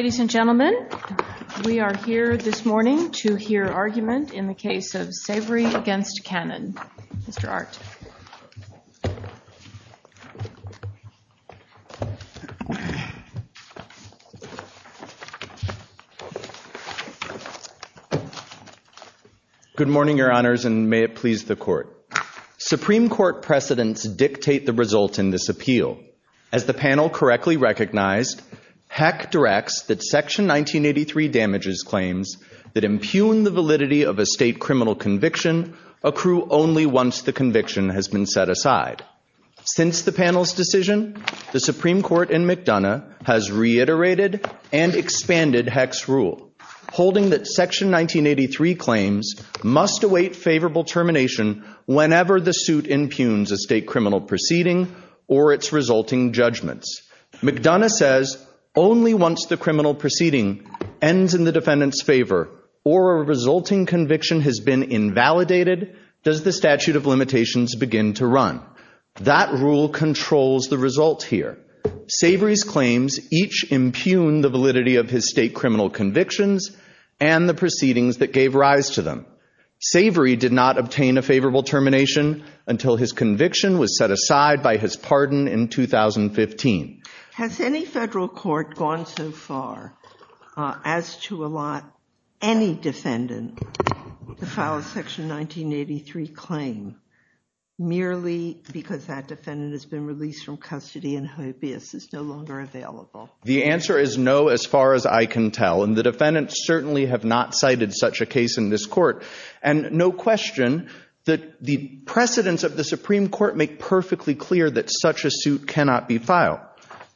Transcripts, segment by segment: Ladies and gentlemen, we are here this morning to hear argument in the case of Savory v. Cannon. Mr. Art. Good morning, Your Honors, and may it please the Court. Supreme Court precedents dictate the result in this appeal. As the panel correctly recognized, Heck directs that Section 1983 damages claims that impugn the validity of a state criminal conviction accrue only once the conviction has been set aside. Since the panel's decision, the Supreme Court in McDonough has reiterated and expanded Heck's rule, holding that Section 1983 claims must await favorable termination whenever the suit impugns a state criminal proceeding or its resulting judgments. McDonough says only once the criminal proceeding ends in the defendant's favor or a resulting conviction has been invalidated does the statute of limitations begin to run. That rule controls the result here. Savory's claims each impugn the validity of his state criminal convictions and the proceedings that gave rise to them. Savory did not obtain a favorable termination until his conviction was set aside by his pardon in 2015. Has any federal court gone so far as to allot any defendant to file a Section 1983 claim merely because that defendant has been released from custody and hobbyist is no longer available? The answer is no, as far as I can tell, and the defendants certainly have not cited such a case in this court, and no question that the precedents of the Supreme Court make perfectly clear that such a suit cannot be filed.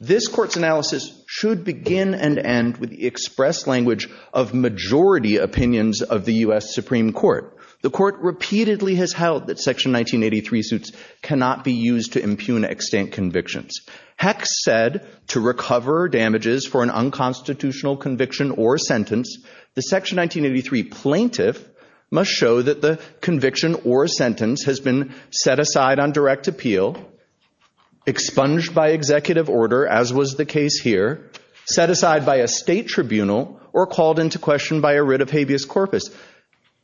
This court's analysis should begin and end with the express language of majority opinions of the U.S. Supreme Court. The court repeatedly has held that Section 1983 suits cannot be used to impugn extant convictions. Heck said to recover damages for an unconstitutional conviction or sentence, the Section 1983 plaintiff must show that the conviction or sentence has been set aside on direct appeal, expunged by executive order, as was the case here, set aside by a state tribunal, or called into question by a writ of habeas corpus.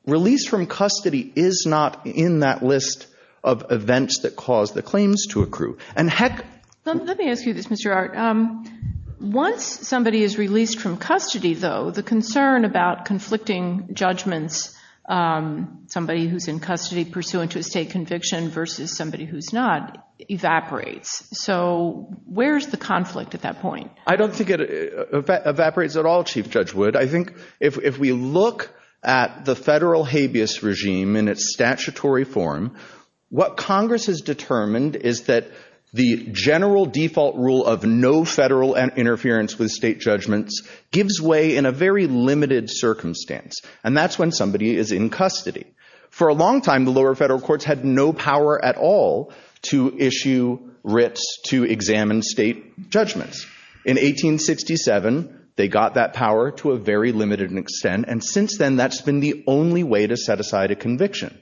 Release from custody is not in that list of events that caused the claims to accrue. And heck— Let me ask you this, Mr. Arndt. Once somebody is released from custody, though, the concern about conflicting judgments, somebody who's in custody pursuant to a state conviction versus somebody who's not, evaporates. So where's the conflict at that point? I don't think it evaporates at all, Chief Judge Wood. I think if we look at the federal habeas regime in its statutory form, what Congress has determined is that the general default rule of no federal interference with state judgments gives way in a very limited circumstance, and that's when somebody is in custody. For a long time, the lower federal courts had no power at all to issue writs to examine state judgments. In 1867, they got that power to a very limited extent, and since then, that's been the only way to set aside a conviction.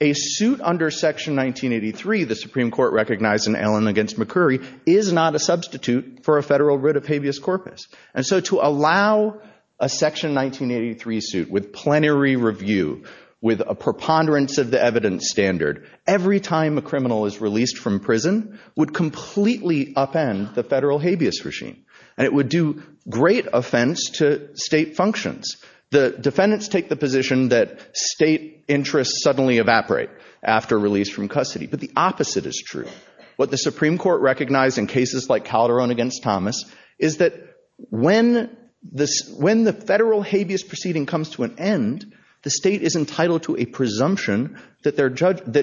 A suit under Section 1983, the Supreme Court recognized in Allen v. McCurry, is not a substitute for a federal writ of habeas corpus. And so to allow a Section 1983 suit with plenary review, with a preponderance of the evidence standard, every time a criminal is released from prison, would completely upend the federal habeas regime. And it would do great offense to state functions. The defendants take the position that state interests suddenly evaporate after release from custody. But the opposite is true. What the Supreme Court recognized in cases like Calderon v. Thomas is that when the federal habeas proceeding comes to an end, the state is entitled to a presumption that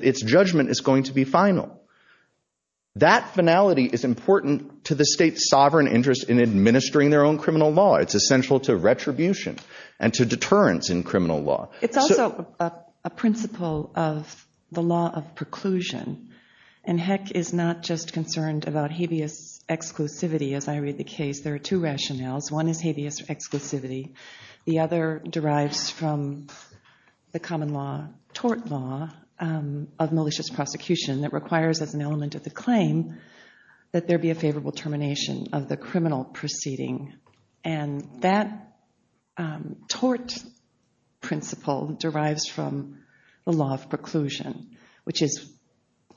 its judgment is going to be final. That finality is important to the state's sovereign interest in administering their own criminal law. It's essential to retribution and to deterrence in criminal law. It's also a principle of the law of preclusion, and Heck is not just concerned about habeas exclusivity. As I read the case, there are two rationales. One is habeas exclusivity. The other derives from the common law, tort law, of malicious prosecution that requires as an element of the claim that there be a favorable termination of the criminal proceeding. And that tort principle derives from the law of preclusion, which is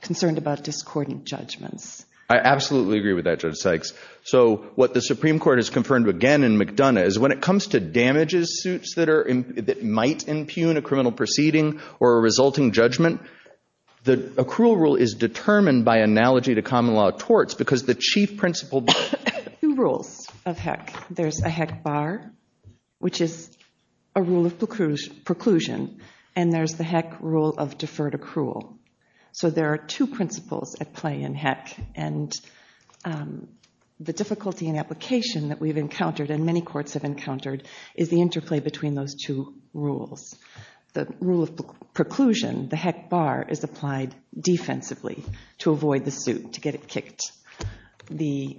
concerned about discordant judgments. I absolutely agree with that, Judge Sykes. So what the Supreme Court has confirmed again in McDonough is when it comes to damages suits that might impugn a criminal proceeding or a resulting judgment, the accrual rule is determined by analogy to common law of torts because the chief principle— Two rules of Heck. There's a Heck bar, which is a rule of preclusion, and there's the Heck rule of deferred accrual. So there are two principles at play in Heck, and the difficulty in application that we've those two rules. The rule of preclusion, the Heck bar, is applied defensively to avoid the suit, to get it kicked. The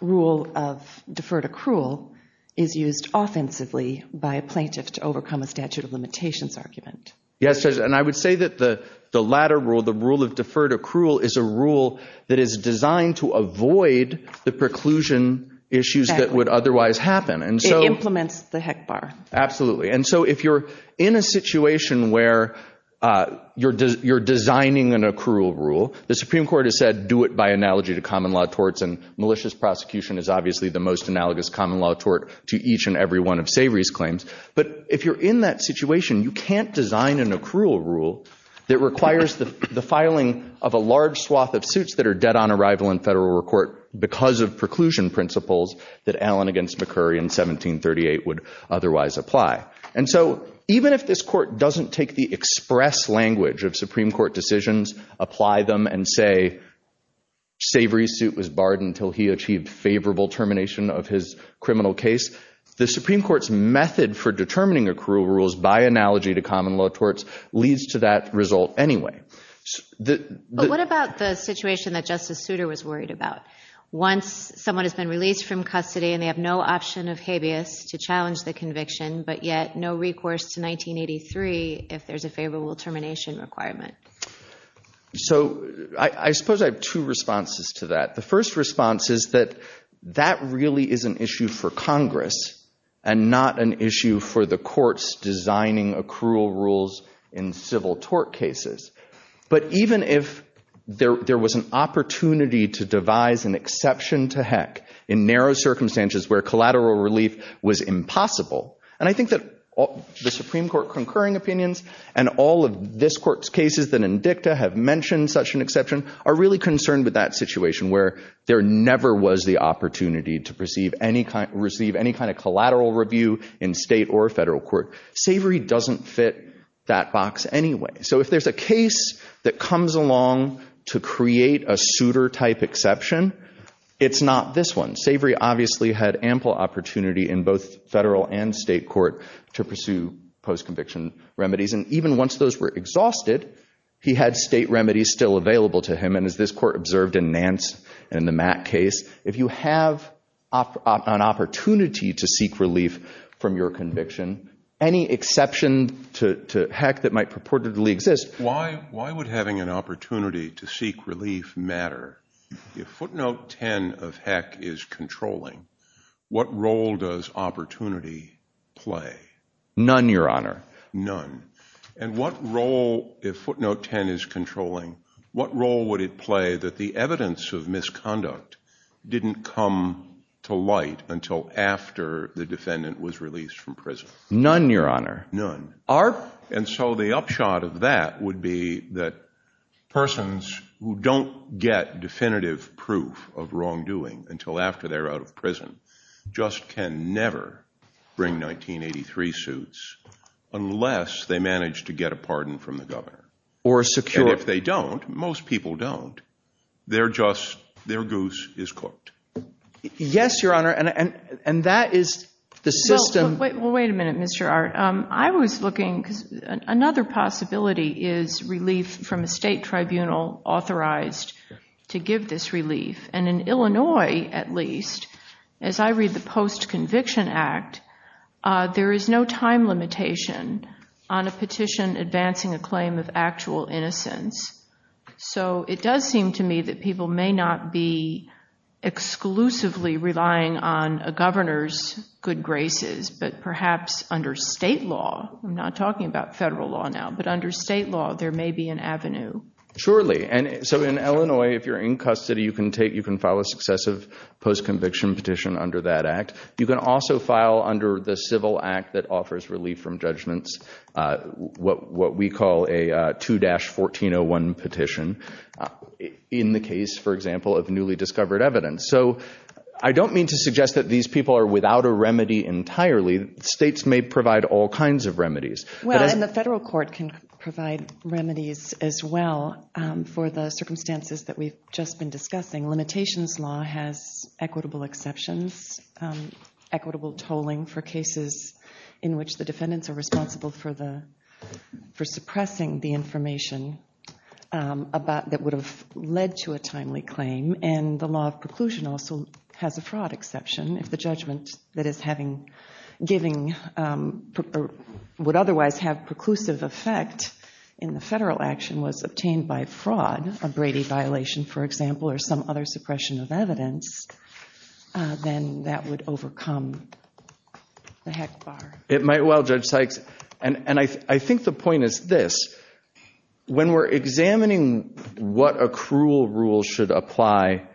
rule of deferred accrual is used offensively by a plaintiff to overcome a statute of limitations argument. Yes, Judge, and I would say that the latter rule, the rule of deferred accrual, is a rule that is designed to avoid the preclusion issues that would otherwise happen. It implements the Heck bar. Absolutely. And so if you're in a situation where you're designing an accrual rule, the Supreme Court has said do it by analogy to common law torts, and malicious prosecution is obviously the most analogous common law tort to each and every one of Savory's claims. But if you're in that situation, you can't design an accrual rule that requires the filing of a large swath of suits that are dead on arrival in federal court because of preclusion principles that Allen against McCurry in 1738 would otherwise apply. And so even if this court doesn't take the express language of Supreme Court decisions, apply them and say Savory's suit was barred until he achieved favorable termination of his criminal case, the Supreme Court's method for determining accrual rules by analogy to common law torts leads to that result anyway. But what about the situation that Justice Souter was worried about? Once someone has been released from custody and they have no option of habeas to challenge the conviction, but yet no recourse to 1983 if there's a favorable termination requirement. So I suppose I have two responses to that. The first response is that that really is an issue for Congress and not an issue for the courts designing accrual rules in civil tort cases. But even if there was an opportunity to devise an exception to heck in narrow circumstances where collateral relief was impossible. And I think that the Supreme Court concurring opinions and all of this court's cases that in dicta have mentioned such an exception are really concerned with that situation where there never was the opportunity to receive any kind of collateral review in state or federal court. Savory doesn't fit that box anyway. So if there's a case that comes along to create a Souter type exception, it's not this one. Savory obviously had ample opportunity in both federal and state court to pursue post-conviction remedies. And even once those were exhausted, he had state remedies still available to him. And as this court observed in Nance and the Mack case, if you have an opportunity to seek Why would having an opportunity to seek relief matter if footnote 10 of heck is controlling? What role does opportunity play? None, your honor. None. And what role, if footnote 10 is controlling, what role would it play that the evidence of misconduct didn't come to light until after the defendant was released from prison? None, your honor. None. And so the upshot of that would be that persons who don't get definitive proof of wrongdoing until after they're out of prison just can never bring 1983 suits unless they manage to get a pardon from the governor. Or a secure. And if they don't, most people don't. They're just, their goose is cooked. Yes, your honor. And that is the system. Well, wait a minute, Mr. Art. I was looking, another possibility is relief from a state tribunal authorized to give this relief. And in Illinois, at least, as I read the Post-Conviction Act, there is no time limitation on a petition advancing a claim of actual innocence. So it does seem to me that people may not be exclusively relying on a governor's good state law. I'm not talking about federal law now, but under state law, there may be an avenue. Surely. And so in Illinois, if you're in custody, you can file a successive post-conviction petition under that act. You can also file under the Civil Act that offers relief from judgments, what we call a 2-1401 petition in the case, for example, of newly discovered evidence. So I don't mean to suggest that these people are without a remedy entirely. States may provide all kinds of remedies. Well, and the federal court can provide remedies as well for the circumstances that we've just been discussing. Limitations law has equitable exceptions, equitable tolling for cases in which the defendants are responsible for suppressing the information that would have led to a timely claim. And the law of preclusion also has a fraud exception. If the judgment that is having, giving, would otherwise have preclusive effect in the federal action was obtained by fraud, a Brady violation, for example, or some other suppression of evidence, then that would overcome the heck bar. It might. Well, Judge Sykes, and I think the point is this. When we're examining what a cruel rule should apply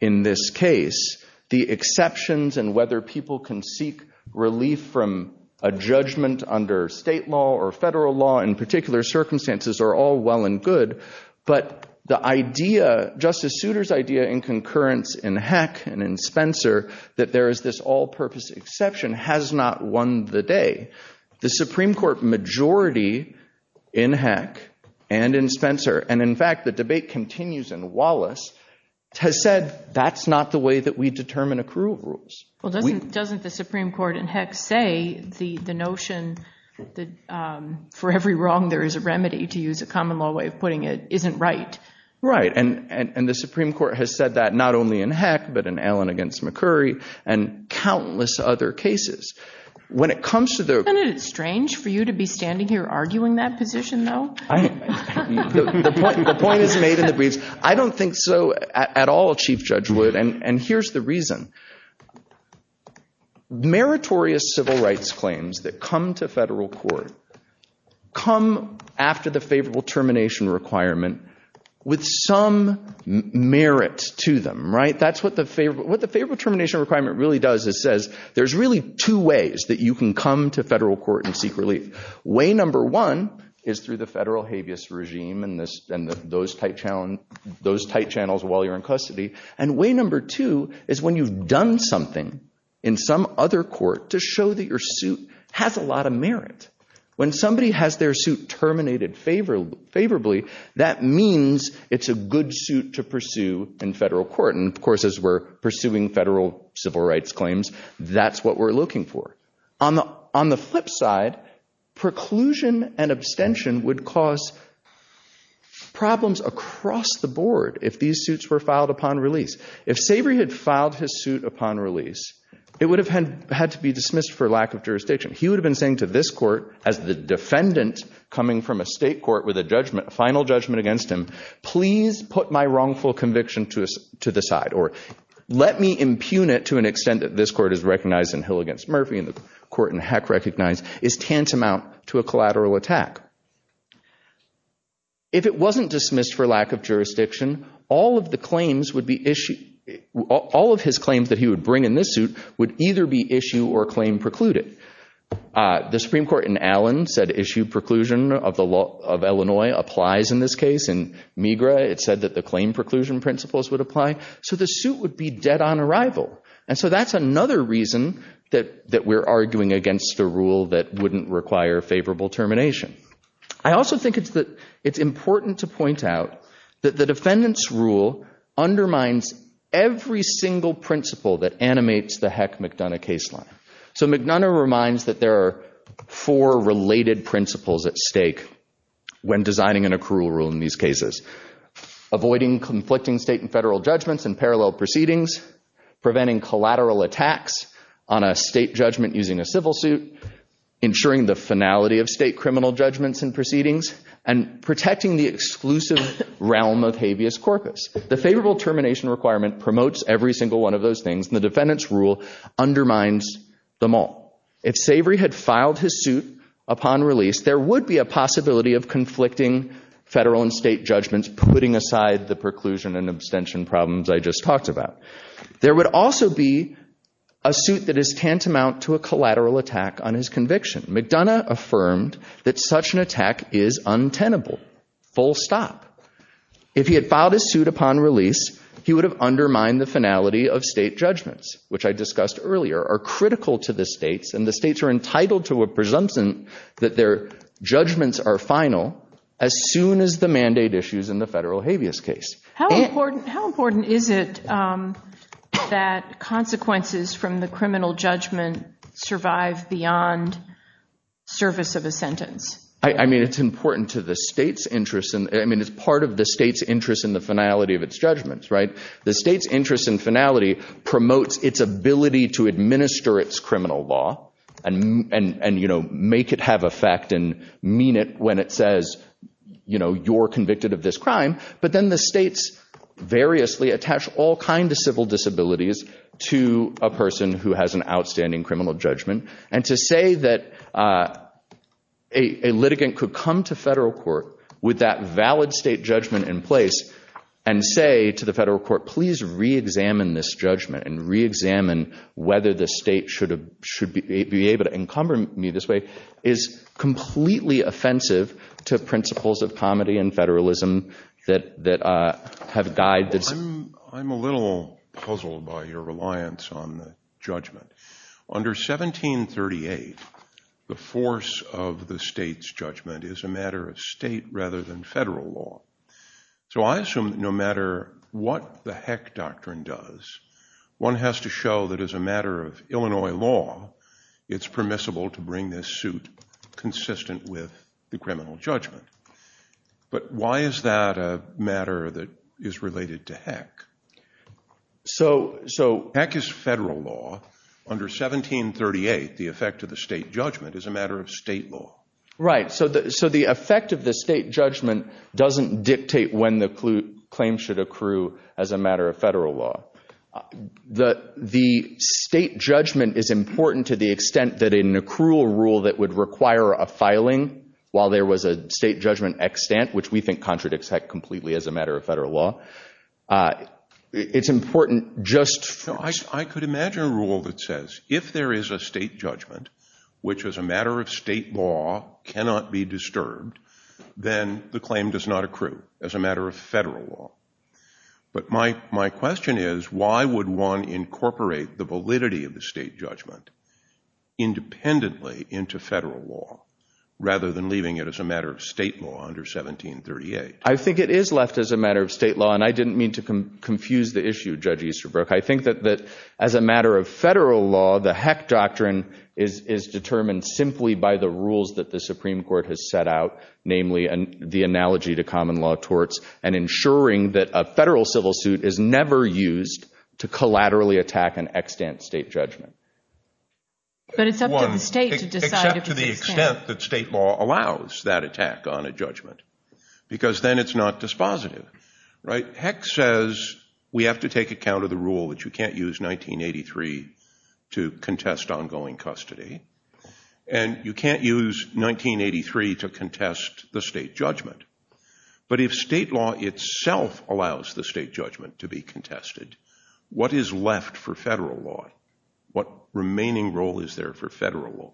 in this case, the exceptions and whether people can seek relief from a judgment under state law or federal law in particular circumstances are all well and good. But the idea, Justice Souter's idea in concurrence in Heck and in Spencer, that there is this all-purpose exception has not won the day. The Supreme Court majority in Heck and in Spencer, and in fact, the debate continues in Wallace, has said that's not the way that we determine a cruel rules. Well, doesn't the Supreme Court in Heck say the notion that for every wrong there is a remedy, to use a common law way of putting it, isn't right? Right. And the Supreme Court has said that not only in Heck, but in Allen against McCurry and countless other cases. When it comes to the... Isn't it strange for you to be standing here arguing that position, though? The point is made in the briefs. I don't think so at all, Chief Judge Wood, and here's the reason. Meritorious civil rights claims that come to federal court come after the favorable termination requirement with some merit to them, right? That's what the favorable termination requirement really does, it says, there's really two ways that you can come to federal court and seek relief. Way number one is through the federal habeas regime and those tight channels while you're in custody. And way number two is when you've done something in some other court to show that your suit has a lot of merit. When somebody has their suit terminated favorably, that means it's a good suit to pursue in federal court. And of course, as we're pursuing federal civil rights claims, that's what we're looking for. On the flip side, preclusion and abstention would cause problems across the board if these suits were filed upon release. If Sabry had filed his suit upon release, it would have had to be dismissed for lack of jurisdiction. He would have been saying to this court as the defendant coming from a state court with a judgment, a final judgment against him, please put my wrongful conviction to the side or let me impugn it to an extent that this court is recognized in Hill against Murphy and the court in Heck recognized is tantamount to a collateral attack. If it wasn't dismissed for lack of jurisdiction, all of the claims would be issued, all of his claims that he would bring in this suit would either be issue or claim precluded. The Supreme Court in Allen said issued preclusion of Illinois applies in this case. In MiGRA, it said that the claim preclusion principles would apply. So the suit would be dead on arrival. And so that's another reason that we're arguing against the rule that wouldn't require favorable termination. I also think it's important to point out that the defendant's rule undermines every single principle that animates the Heck-McDonough case line. So McDonough reminds that there are four related principles at stake when designing an accrual rule in these cases, avoiding conflicting state and federal judgments and parallel proceedings, preventing collateral attacks on a state judgment using a civil suit, ensuring the finality of state criminal judgments and proceedings, and protecting the exclusive realm of habeas corpus. The favorable termination requirement promotes every single one of those things and the defendant's If Savory had filed his suit upon release, there would be a possibility of conflicting federal and state judgments, putting aside the preclusion and abstention problems I just talked about. There would also be a suit that is tantamount to a collateral attack on his conviction. McDonough affirmed that such an attack is untenable, full stop. If he had filed his suit upon release, he would have undermined the finality of state and the states are entitled to a presumption that their judgments are final as soon as the mandate issues in the federal habeas case. How important is it that consequences from the criminal judgment survive beyond service of a sentence? I mean, it's important to the state's interest and I mean, it's part of the state's interest in the finality of its judgments, right? The state's interest in finality promotes its ability to administer its criminal law and make it have effect and mean it when it says, you're convicted of this crime. But then the states variously attach all kinds of civil disabilities to a person who has an outstanding criminal judgment. And to say that a litigant could come to federal court with that valid state judgment in place and say to the federal court, please re-examine this judgment and re-examine whether the state should be able to encumber me this way is completely offensive to principles of comedy and federalism that have guided this. I'm a little puzzled by your reliance on judgment. Under 1738, the force of the state's judgment is a matter of state rather than federal law. So I assume no matter what the Heck Doctrine does, one has to show that as a matter of Illinois law, it's permissible to bring this suit consistent with the criminal judgment. But why is that a matter that is related to Heck? So Heck is federal law. Under 1738, the effect of the state judgment is a matter of state law. Right. So the effect of the state judgment doesn't dictate when the claim should accrue as a matter of federal law. The state judgment is important to the extent that in an accrual rule that would require a filing while there was a state judgment extant, which we think contradicts Heck completely as a matter of federal law. It's important just for... I could imagine a rule that says if there is a state judgment, which as a matter of be disturbed, then the claim does not accrue as a matter of federal law. But my question is, why would one incorporate the validity of the state judgment independently into federal law rather than leaving it as a matter of state law under 1738? I think it is left as a matter of state law, and I didn't mean to confuse the issue, Judge Easterbrook. I think that as a matter of federal law, the Heck Doctrine is determined simply by the way the Supreme Court has set out, namely the analogy to common law torts, and ensuring that a federal civil suit is never used to collaterally attack an extant state judgment. But it's up to the state to decide if it's extant. Except to the extent that state law allows that attack on a judgment, because then it's not dispositive. Right. Heck says we have to take account of the rule that you can't use 1983 to contest ongoing custody. And you can't use 1983 to contest the state judgment. But if state law itself allows the state judgment to be contested, what is left for federal law? What remaining role is there for federal law?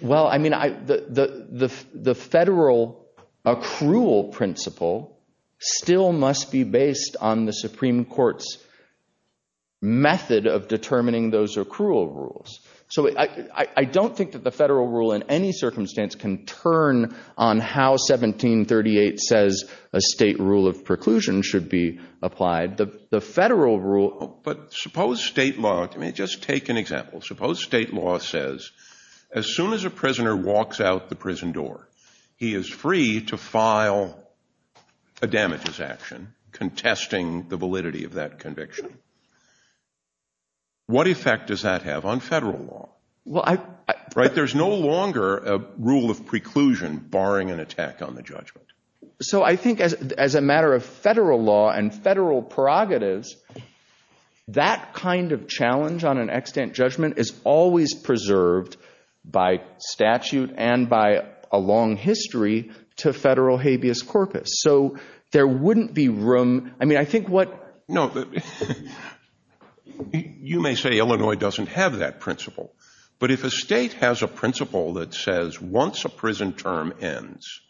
Well, I mean, the federal accrual principle still must be based on the Supreme Court's method of determining those accrual rules. So I don't think that the federal rule in any circumstance can turn on how 1738 says a state rule of preclusion should be applied. The federal rule— But suppose state law—I mean, just take an example. Suppose state law says as soon as a prisoner walks out the prison door, he is free to file a damages action contesting the validity of that conviction. What effect does that have on federal law? Well, I— Right? There's no longer a rule of preclusion barring an attack on the judgment. So I think as a matter of federal law and federal prerogatives, that kind of challenge on an extant judgment is always preserved by statute and by a long history to federal habeas corpus. So there wouldn't be room—I mean, I think what— No, you may say Illinois doesn't have that principle, but if a state has a principle that says once a prison term ends,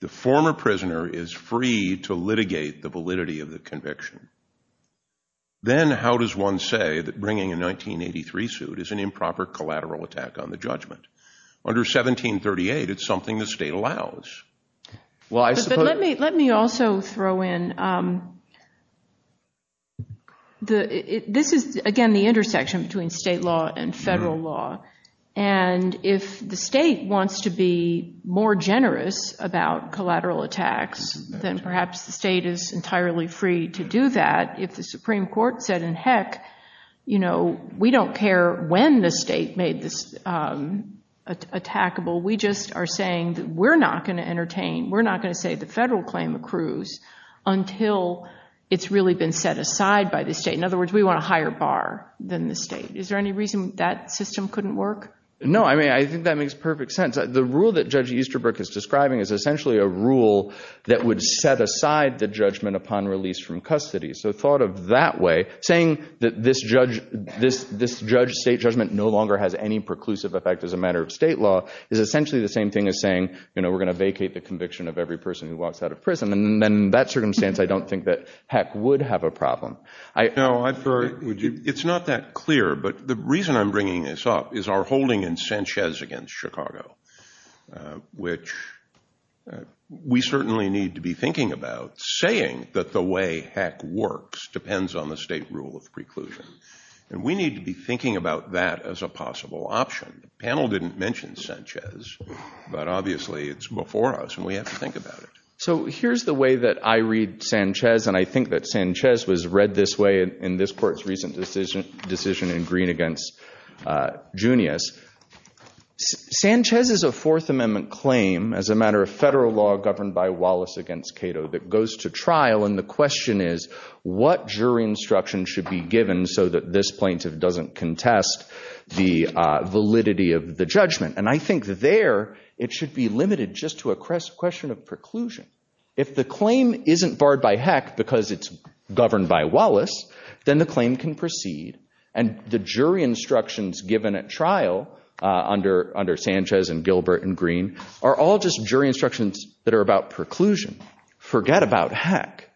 the former prisoner is free to litigate the validity of the conviction, then how does one say that bringing a 1983 suit is an improper collateral attack on the judgment? Under 1738, it's something the state allows. Well I suppose— But let me also throw in—this is, again, the intersection between state law and federal law, and if the state wants to be more generous about collateral attacks, then perhaps the state is entirely free to do that if the Supreme Court said, heck, we don't care when the state is being attackable, we just are saying that we're not going to entertain, we're not going to say the federal claim accrues until it's really been set aside by the state. In other words, we want a higher bar than the state. Is there any reason that system couldn't work? No, I mean, I think that makes perfect sense. The rule that Judge Easterbrook is describing is essentially a rule that would set aside the judgment upon release from custody. So thought of that way, saying that this state judgment no longer has any preclusive effect as a matter of state law is essentially the same thing as saying, you know, we're going to vacate the conviction of every person who walks out of prison, and in that circumstance, I don't think that heck would have a problem. No, it's not that clear, but the reason I'm bringing this up is our holding in Sanchez against Chicago, which we certainly need to be thinking about, saying that the way heck works depends on the state rule of preclusion, and we need to be thinking about that as a So here's the way that I read Sanchez, and I think that Sanchez was read this way in this court's recent decision in Green against Junius. Sanchez is a Fourth Amendment claim as a matter of federal law governed by Wallace against Cato that goes to trial, and the question is, what jury instruction should be given so that this plaintiff doesn't contest the validity of the judgment? And I think there it should be limited just to a question of preclusion. If the claim isn't barred by heck because it's governed by Wallace, then the claim can proceed, and the jury instructions given at trial under Sanchez and Gilbert and Green are all just jury instructions that are about preclusion. Forget about heck.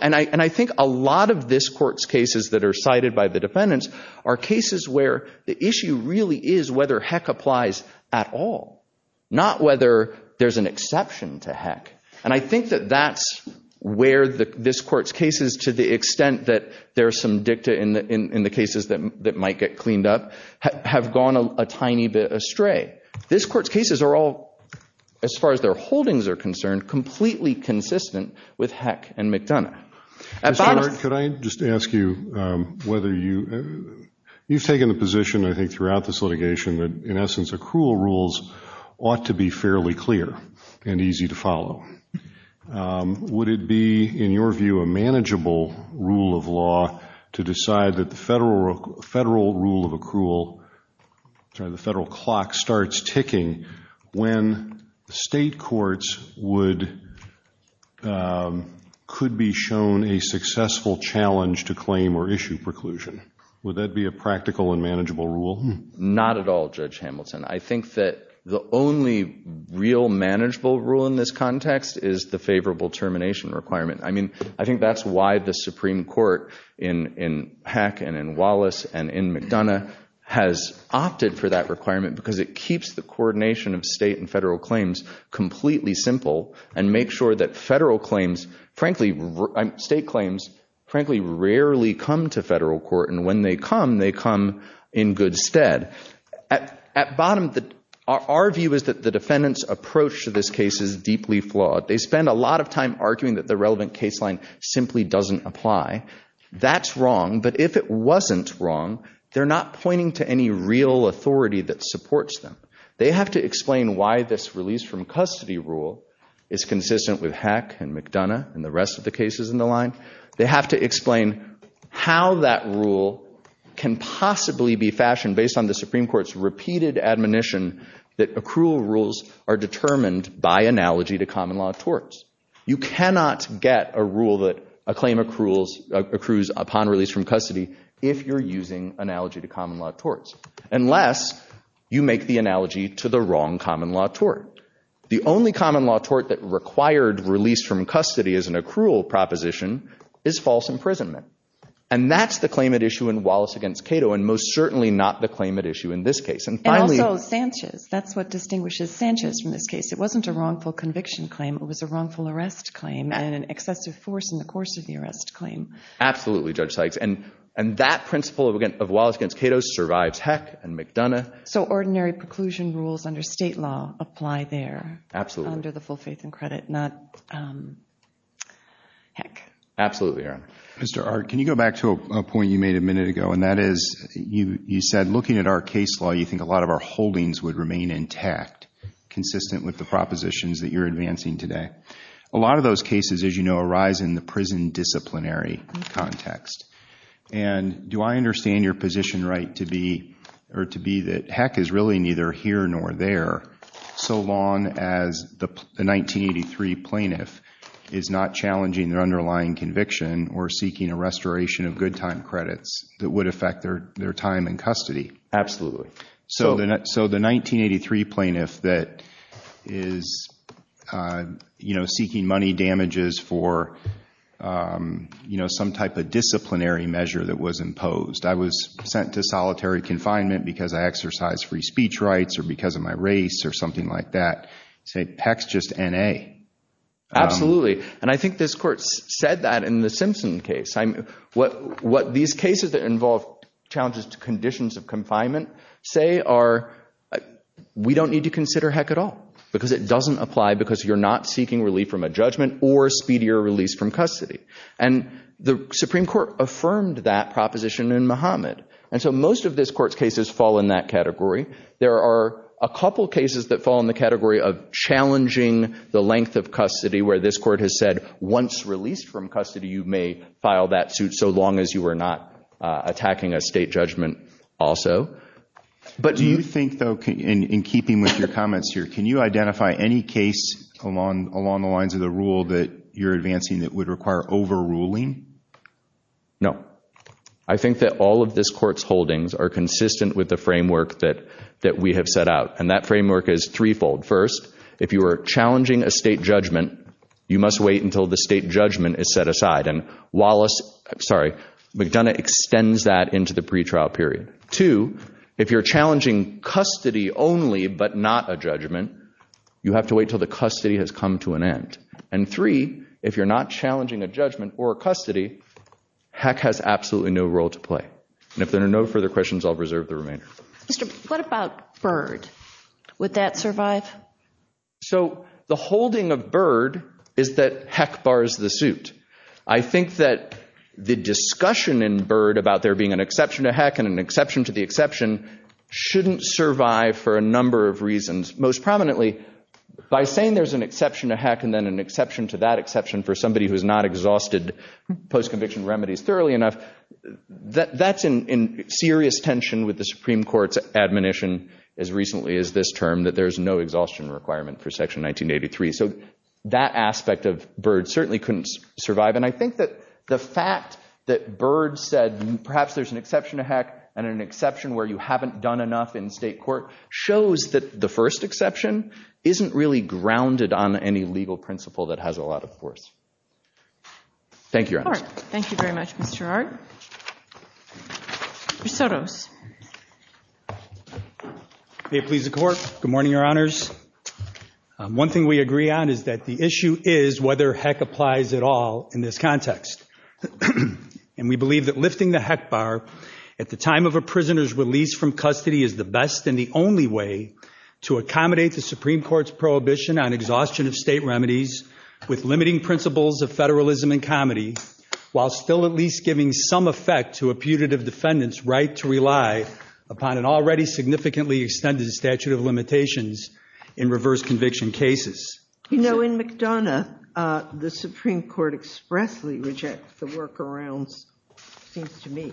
And I think a lot of this court's cases that are cited by the defendants are cases where the issue really is whether heck applies at all, not whether there's an exception to heck. And I think that that's where this court's cases, to the extent that there's some dicta in the cases that might get cleaned up, have gone a tiny bit astray. This court's cases are all, as far as their holdings are concerned, completely consistent with heck and McDonough. Mr. Hart, could I just ask you whether you've taken the position, I think, throughout this litigation that, in essence, accrual rules ought to be fairly clear and easy to follow. Would it be, in your view, a manageable rule of law to decide that the federal rule of law could be shown a successful challenge to claim or issue preclusion? Would that be a practical and manageable rule? Not at all, Judge Hamilton. I think that the only real manageable rule in this context is the favorable termination requirement. I mean, I think that's why the Supreme Court in heck and in Wallace and in McDonough has opted for that requirement, because it keeps the coordination of state and federal claims completely simple and makes sure that federal claims, frankly, state claims, frankly, rarely come to federal court. And when they come, they come in good stead. At bottom, our view is that the defendant's approach to this case is deeply flawed. They spend a lot of time arguing that the relevant case line simply doesn't apply. That's wrong. But if it wasn't wrong, they're not pointing to any real authority that supports them. They have to explain why this release from custody rule is consistent with heck and McDonough and the rest of the cases in the line. They have to explain how that rule can possibly be fashioned based on the Supreme Court's repeated admonition that accrual rules are determined by analogy to common law torts. You cannot get a rule that a claim accrues upon release from custody if you're using analogy to common law torts, unless you make the analogy to the wrong common law tort. The only common law tort that required release from custody as an accrual proposition is false imprisonment. And that's the claim at issue in Wallace against Cato and most certainly not the claim at issue in this case. And finally- And also Sanchez. That's what distinguishes Sanchez from this case. It wasn't a wrongful conviction claim. It was a wrongful arrest claim and an excessive force in the course of the arrest claim. Absolutely, Judge Sykes. And that principle of Wallace against Cato survives heck and McDonough. So ordinary preclusion rules under state law apply there. Absolutely. Under the full faith and credit, not heck. Absolutely, Erin. Mr. Art, can you go back to a point you made a minute ago, and that is you said looking at our case law, you think a lot of our holdings would remain intact, consistent with the propositions that you're advancing today. A lot of those cases, as you know, arise in the prison disciplinary context. And do I understand your position right to be, or to be that heck is really neither here nor there so long as the 1983 plaintiff is not challenging their underlying conviction or seeking a restoration of good time credits that would affect their time in custody? Absolutely. So the 1983 plaintiff that is, you know, seeking money damages for, you know, some type of disciplinary measure that was imposed. I was sent to solitary confinement because I exercise free speech rights or because of my race or something like that. Say heck's just N.A. Absolutely. And I think this court said that in the Simpson case. What these cases that involve challenges to conditions of confinement say are we don't need to consider heck at all because it doesn't apply because you're not seeking relief from a judgment or speedier release from custody. And the Supreme Court affirmed that proposition in Muhammad. And so most of this court's cases fall in that category. There are a couple cases that fall in the category of challenging the length of custody where this court has said once released from custody, you may file that suit so long as you were not attacking a state judgment also. But do you think, though, in keeping with your comments here, can you identify any case along along the lines of the rule that you're advancing that would require overruling? No, I think that all of this court's holdings are consistent with the framework that that we have set out. And that framework is threefold. First, if you are challenging a state judgment, you must wait until the state judgment is set aside. And Wallace, sorry, McDonough extends that into the pretrial period. Two, if you're challenging custody only but not a judgment, you have to wait till the custody has come to an end. And three, if you're not challenging a judgment or custody, heck has absolutely no role to play. And if there are no further questions, I'll reserve the remainder. Mr. what about Byrd? Would that survive? So the holding of Byrd is that heck bars the suit. I think that the discussion in Byrd about there being an exception to heck and an exception to the exception shouldn't survive for a number of reasons. Most prominently, by saying there's an exception to heck and then an exception to that exception for somebody who's not exhausted post-conviction remedies thoroughly enough, that's in serious tension with the Supreme Court's admonition as recently as this term that there's no exhaustion requirement for Section 1983. So that aspect of Byrd certainly couldn't survive. And I think that the fact that Byrd said perhaps there's an exception to heck and an exception where you haven't done enough in state court shows that the first exception isn't really grounded on any legal principle that has a lot of force. Thank you, Your Honor. Thank you very much, Mr. Ard. Mr. Soros. May it please the Court, good morning, Your Honors. One thing we agree on is that the issue is whether heck applies at all in this context. And we believe that lifting the heck bar at the time of a prisoner's release from custody is the best and the only way to accommodate the Supreme Court's prohibition on exhaustion of state remedies with limiting principles of federalism and comedy while still at least giving some effect to a putative defendant's right to rely upon an already significantly extended statute of limitations in reverse conviction cases. You know, in McDonough, the Supreme Court expressly rejects the workarounds, it seems to me,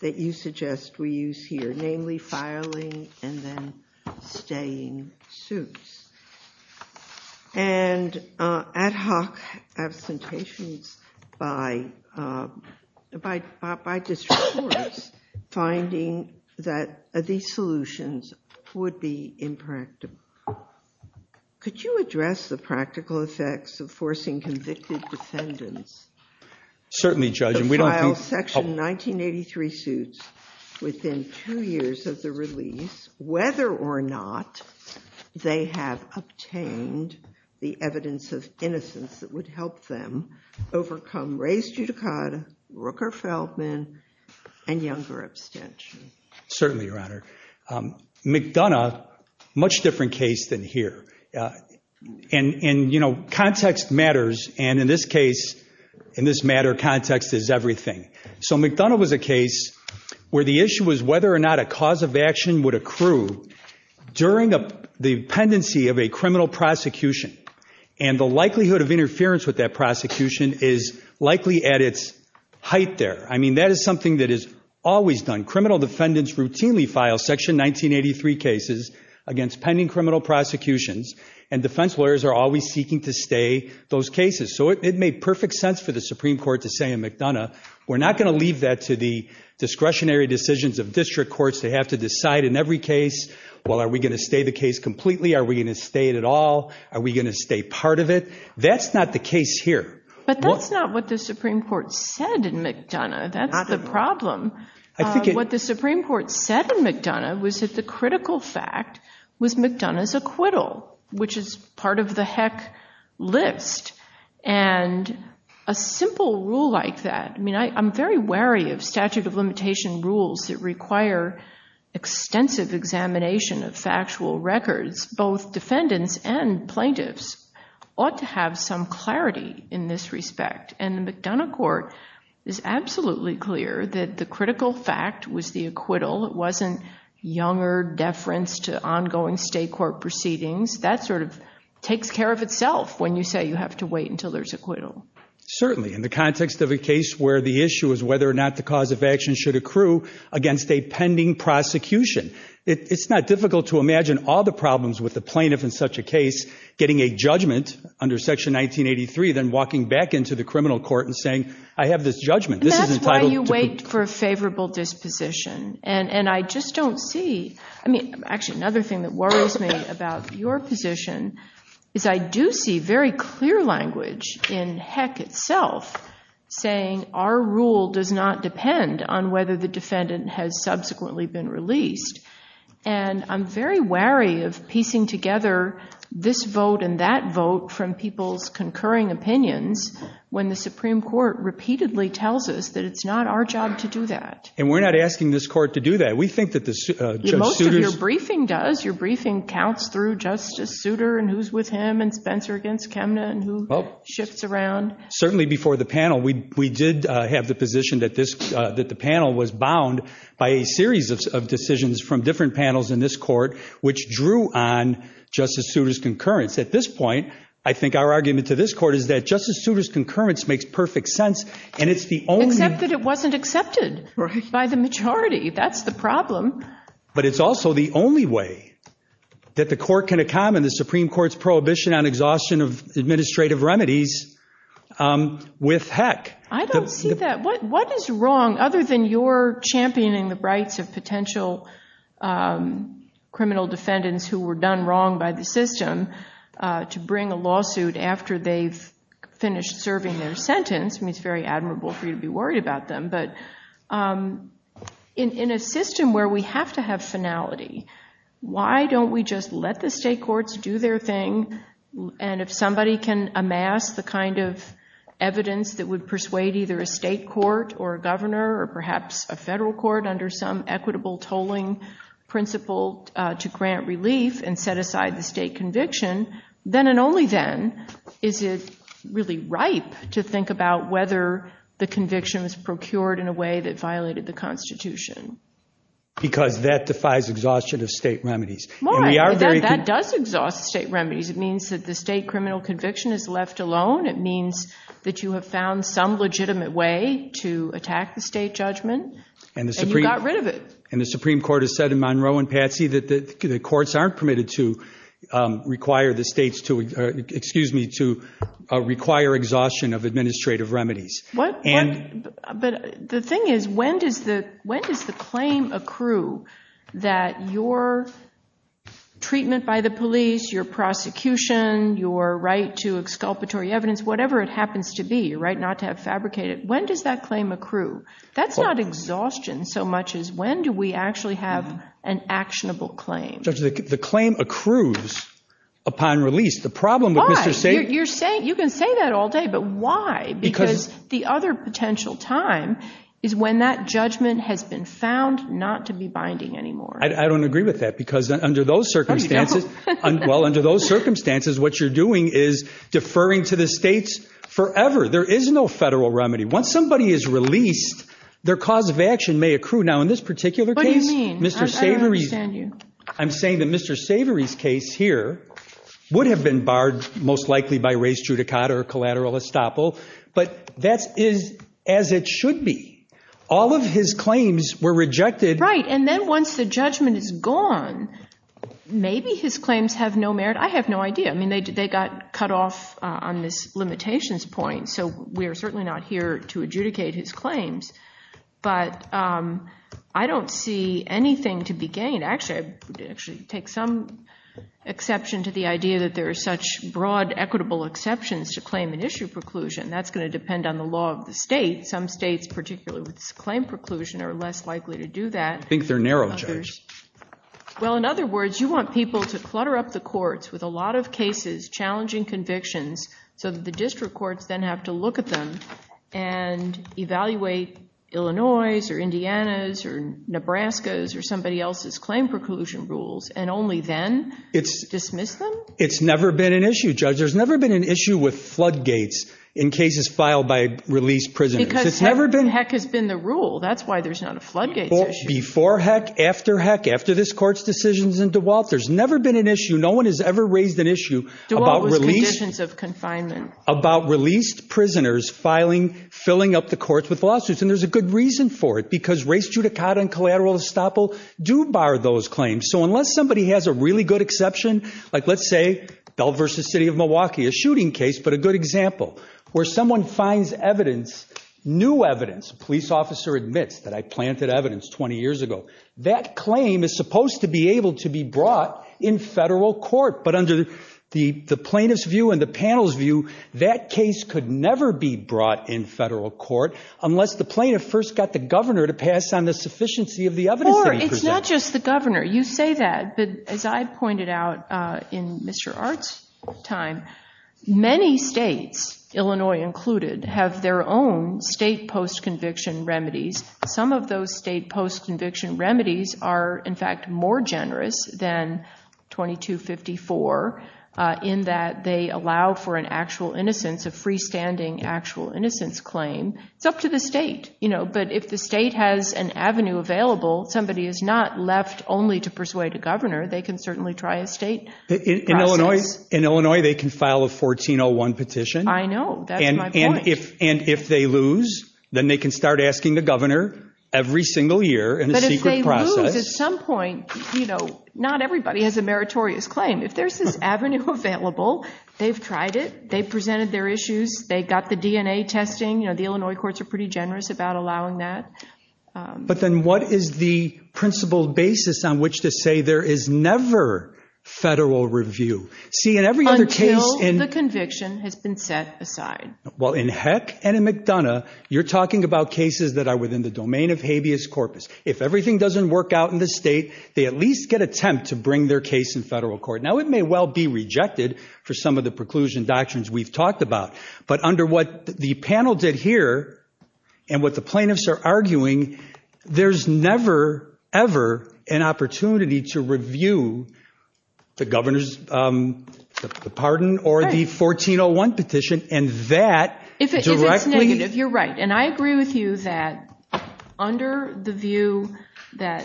that you suggest we use here, namely filing and then staying suits. And ad hoc absentations by district courts finding that these solutions would be impractical. Could you address the practical effects of forcing convicted defendants to file Section 1983 suits within two years of the release, whether or not they have obtained the evidence of innocence that would help them overcome Rae's judicata, Rooker-Feldman, and Younger abstention? Certainly, Your Honor. McDonough, much different case than here. And you know, context matters. And in this case, in this matter, context is everything. So McDonough was a case where the issue was whether or not a cause of action would accrue during the pendency of a criminal prosecution. And the likelihood of interference with that prosecution is likely at its height there. I mean, that is something that is always done. Criminal defendants routinely file Section 1983 cases against pending criminal prosecutions, and defense lawyers are always seeking to stay those cases. So it made perfect sense for the Supreme Court to say in McDonough, we're not going to leave that to the discretionary decisions of district courts. They have to decide in every case, well, are we going to stay the case completely? Are we going to stay it at all? Are we going to stay part of it? That's not the case here. But that's not what the Supreme Court said in McDonough. That's the problem. What the Supreme Court said in McDonough was that the critical fact was McDonough's acquittal, which is part of the heck list. And a simple rule like that, I mean, I'm very wary of statute of limitation rules that require extensive examination of factual records. Both defendants and plaintiffs ought to have some clarity in this respect. And the McDonough court is absolutely clear that the critical fact was the acquittal. It wasn't younger deference to ongoing state court proceedings. That sort of takes care of itself when you say you have to wait until there's acquittal. Certainly, in the context of a case where the issue is whether or not the cause of action should accrue against a pending prosecution. It's not difficult to imagine all the problems with the plaintiff in such a case getting a judgment under Section 1983, then walking back into the criminal court and saying, I have this judgment. This is entitled to- And that's why you wait for a favorable disposition. And I just don't see, I mean, actually another thing that worries me about your position is I do see very clear language in heck itself saying our rule does not depend on whether the defendant has subsequently been released. And I'm very wary of piecing together this vote and that vote from people's concurring opinions when the Supreme Court repeatedly tells us that it's not our job to do that. And we're not asking this court to do that. We think that the suitor's- Most of your briefing does. Your briefing counts through Justice Souter and who's with him and Spencer against Kemna and who shifts around. Certainly, before the panel, we did have the position that this, that the panel was bound by a series of decisions from different panels in this court which drew on Justice Souter's concurrence. At this point, I think our argument to this court is that Justice Souter's concurrence makes perfect sense and it's the only- Except that it wasn't accepted. Right. By the majority. That's the problem. But it's also the only way that the court can accommodate the Supreme Court's prohibition on exhaustion of administrative remedies with heck. I don't see that. What is wrong, other than your championing the rights of potential criminal defendants who were done wrong by the system to bring a lawsuit after they've finished serving their sentence. I mean, it's very admirable for you to be worried about them. But in a system where we have to have finality, why don't we just let the state courts do their thing? And if somebody can amass the kind of evidence that would persuade either a state court or a governor or perhaps a federal court under some equitable tolling principle to grant relief and set aside the state conviction, then and only then is it really ripe to think about whether the conviction was procured in a way that violated the Constitution. Because that defies exhaustion of state remedies. Why? That does exhaust state remedies. It means that the state criminal conviction is left alone. It means that you have found some legitimate way to attack the state judgment and you got rid of it. And the Supreme Court has said in Monroe and Patsy that the courts aren't permitted to require the states to, excuse me, to require exhaustion of administrative remedies. But the thing is, when does the claim accrue that your treatment by the police, your prosecution, your right to exculpatory evidence, whatever it happens to be, your right not to have fabricated, when does that claim accrue? That's not exhaustion so much as when do we actually have an actionable claim. Judge, the claim accrues upon release. The problem with Mr. Savery. Why? You can say that all day, but why? Because the other potential time is when that judgment has been found not to be binding anymore. I don't agree with that because under those circumstances, well, under those circumstances what you're doing is deferring to the states forever. There is no federal remedy. Once somebody is released, their cause of action may accrue. Now, in this particular case, Mr. Savery. What do you mean? I'm saying that Mr. Savery's case here would have been barred most likely by res judicata or collateral estoppel, but that is as it should be. All of his claims were rejected. Right, and then once the judgment is gone, maybe his claims have no merit. I have no idea. I mean, they got cut off on this limitations point, so we are certainly not here to adjudicate his claims. But I don't see anything to be gained. Actually, I would actually take some exception to the idea that there are such broad equitable exceptions to claim and issue preclusion. That's going to depend on the law of the state. Some states, particularly with claim preclusion, are less likely to do that. I think they're narrow, Judge. Well, in other words, you want people to clutter up the courts with a lot of cases, challenging convictions, so that the district courts then have to look at them and evaluate Illinois' or Indiana's or Nebraska's or somebody else's claim preclusion rules, and only then dismiss them? It's never been an issue, Judge. There's never been an issue with floodgates in cases filed by released prisoners. Because heck has been the rule. That's why there's not a floodgates issue. Before heck, after heck, after this court's decisions in DeWalt, there's never been an issue. No one has ever raised an issue about released prisoners filing, filling up the courts with lawsuits. And there's a good reason for it, because race judicata and collateral estoppel do bar those claims. So unless somebody has a really good exception, like let's say, Bell v. City of Milwaukee, a shooting case, but a good example, where someone finds evidence, new evidence, police officer admits that I planted evidence 20 years ago, that claim is supposed to be able to be brought in federal court. But under the plaintiff's view and the panel's view, that case could never be brought in federal court unless the plaintiff first got the governor to pass on the sufficiency of the evidence that he presented. It's not just the governor. You say that, but as I pointed out in Mr. Art's time, many states, Illinois included, have their own state post-conviction remedies. Some of those state post-conviction remedies are, in fact, more generous than 2254 in that they allow for an actual innocence, a freestanding actual innocence claim. It's up to the state. But if the state has an avenue available, somebody is not left only to persuade a governor. They can certainly try a state process. In Illinois, they can file a 1401 petition. I know. That's my point. And if they lose, then they can start asking the governor every single year in a secret process. But if they lose at some point, not everybody has a meritorious claim. If there's this avenue available, they've tried it. They presented their issues. They got the DNA testing. The Illinois courts are pretty generous about allowing that. But then what is the principled basis on which to say there is never federal review? See, in every other case in- Until the conviction has been set aside. Well, in Heck and in McDonough, you're talking about cases that are within the domain of habeas corpus. If everything doesn't work out in the state, they at least get a temp to bring their case in federal court. Now, it may well be rejected for some of the preclusion doctrines we've talked about. But under what the panel did here and what the plaintiffs are arguing, there's never, ever an opportunity to review the governor's pardon or the 1401 petition. And that directly- If it's negative, you're right. And I agree with you that under the view that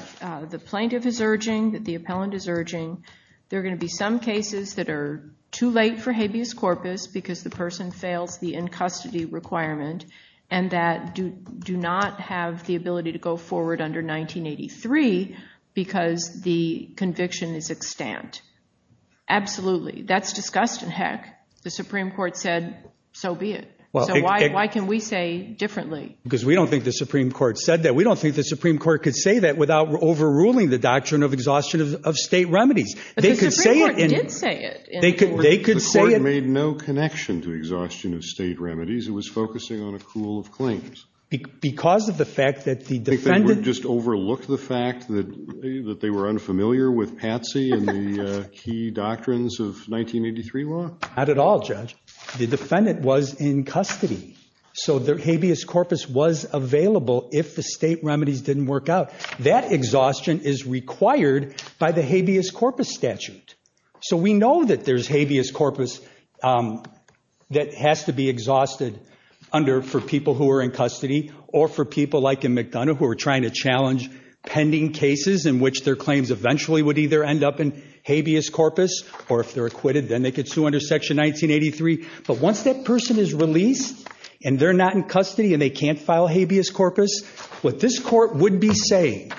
the plaintiff is urging, that the appellant is urging, there are going to be some cases that are too late for habeas corpus because the person fails the in-custody requirement and that do not have the ability to go forward under 1983 because the conviction is extant. Absolutely. That's discussed in Heck. The Supreme Court said, so be it. So why can we say differently? Because we don't think the Supreme Court said that. We don't think the Supreme Court could say that without overruling the doctrine of exhaustion of state remedies. The Supreme Court did say it. They could say it. The court made no connection to exhaustion of state remedies. It was focusing on a pool of claims. Because of the fact that the defendant- Just overlooked the fact that they were unfamiliar with Patsy and the key doctrines of 1983 law? Not at all, Judge. The defendant was in custody. So their habeas corpus was available if the state remedies didn't work out. That exhaustion is required by the habeas corpus statute. So we know that there's habeas corpus that has to be exhausted for people who are in custody or for people like in McDonough who are trying to challenge pending cases in which their claims eventually would either end up in habeas corpus or if they're acquitted, then they could sue under section 1983. But once that person is released and they're not in custody and they can't file habeas corpus, what this court wouldn't be saying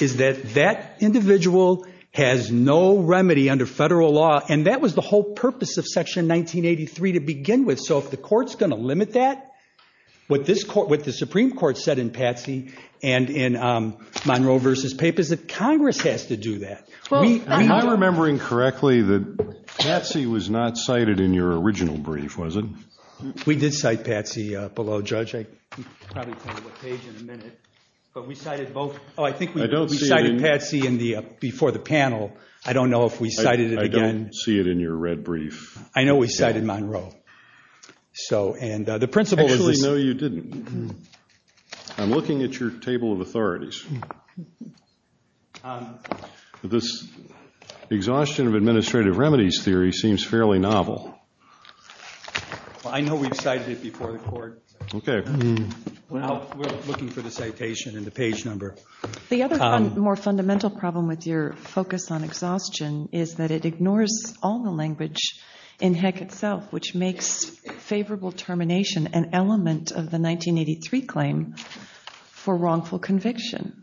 is that that individual has no remedy under federal law. And that was the whole purpose of section 1983 to begin with. So if the court's going to limit that, what the Supreme Court said in Patsy and in Monroe versus Pape is that Congress has to do that. Am I remembering correctly that Patsy was not cited in your original brief, was it? We did cite Patsy below, Judge. I can probably tell you what page in a minute. But we cited both. Oh, I think we cited Patsy before the panel. I don't know if we cited it again. I don't see it in your red brief. I know we cited Monroe. And the principle is this. Actually, no, you didn't. I'm looking at your table of authorities. seems fairly novel. I know we've cited it before the court. Well, we're looking for the citation and the page number. The other more fundamental problem with your focus on exhaustion is that it ignores all the language in Heck itself, which makes favorable termination an element of the 1983 claim for wrongful conviction.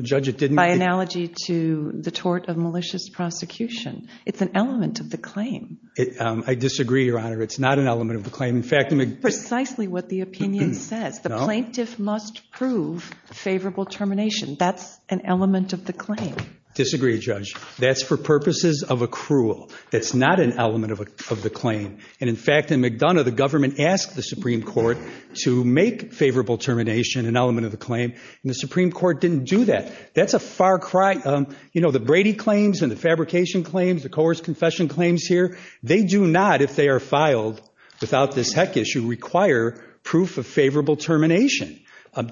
Judge, it didn't. By analogy to the tort of malicious prosecution. It's an element of the claim. I disagree, Your Honor. It's not an element of the claim. Precisely what the opinion says. The plaintiff must prove favorable termination. That's an element of the claim. Disagree, Judge. That's for purposes of accrual. That's not an element of the claim. And in fact, in McDonough, the government asked the Supreme Court to make favorable termination an element of the claim. And the Supreme Court didn't do that. That's a far cry. The Brady claims and the fabrication claims, the coerced confession claims here, they do not, if they are filed without this Heck issue, require proof of favorable termination.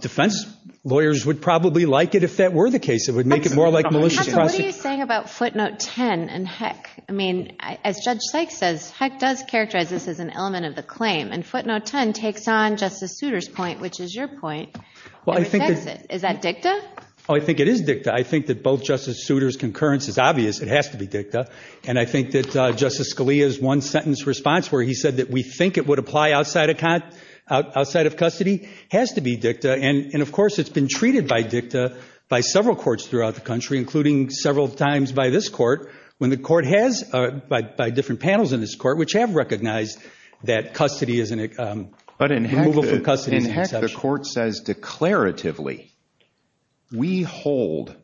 Defense lawyers would probably like it if that were the case. It would make it more like malicious prosecution. What are you saying about footnote 10 and Heck? I mean, as Judge Sykes says, Heck does characterize this as an element of the claim. And footnote 10 takes on Justice Souter's point, which is your point, and affects it. Is that dicta? Oh, I think it is dicta. I think that both Justice Souter's concurrence is obvious. It has to be dicta. And I think that Justice Scalia's one-sentence response where he said that we think it would apply outside of custody has to be dicta. And of course, it's been treated by dicta by several courts throughout the country, including several times by this court, when the court has, by different panels in this court, which have recognized that custody is an exception. But in Heck, the court says declaratively, we hold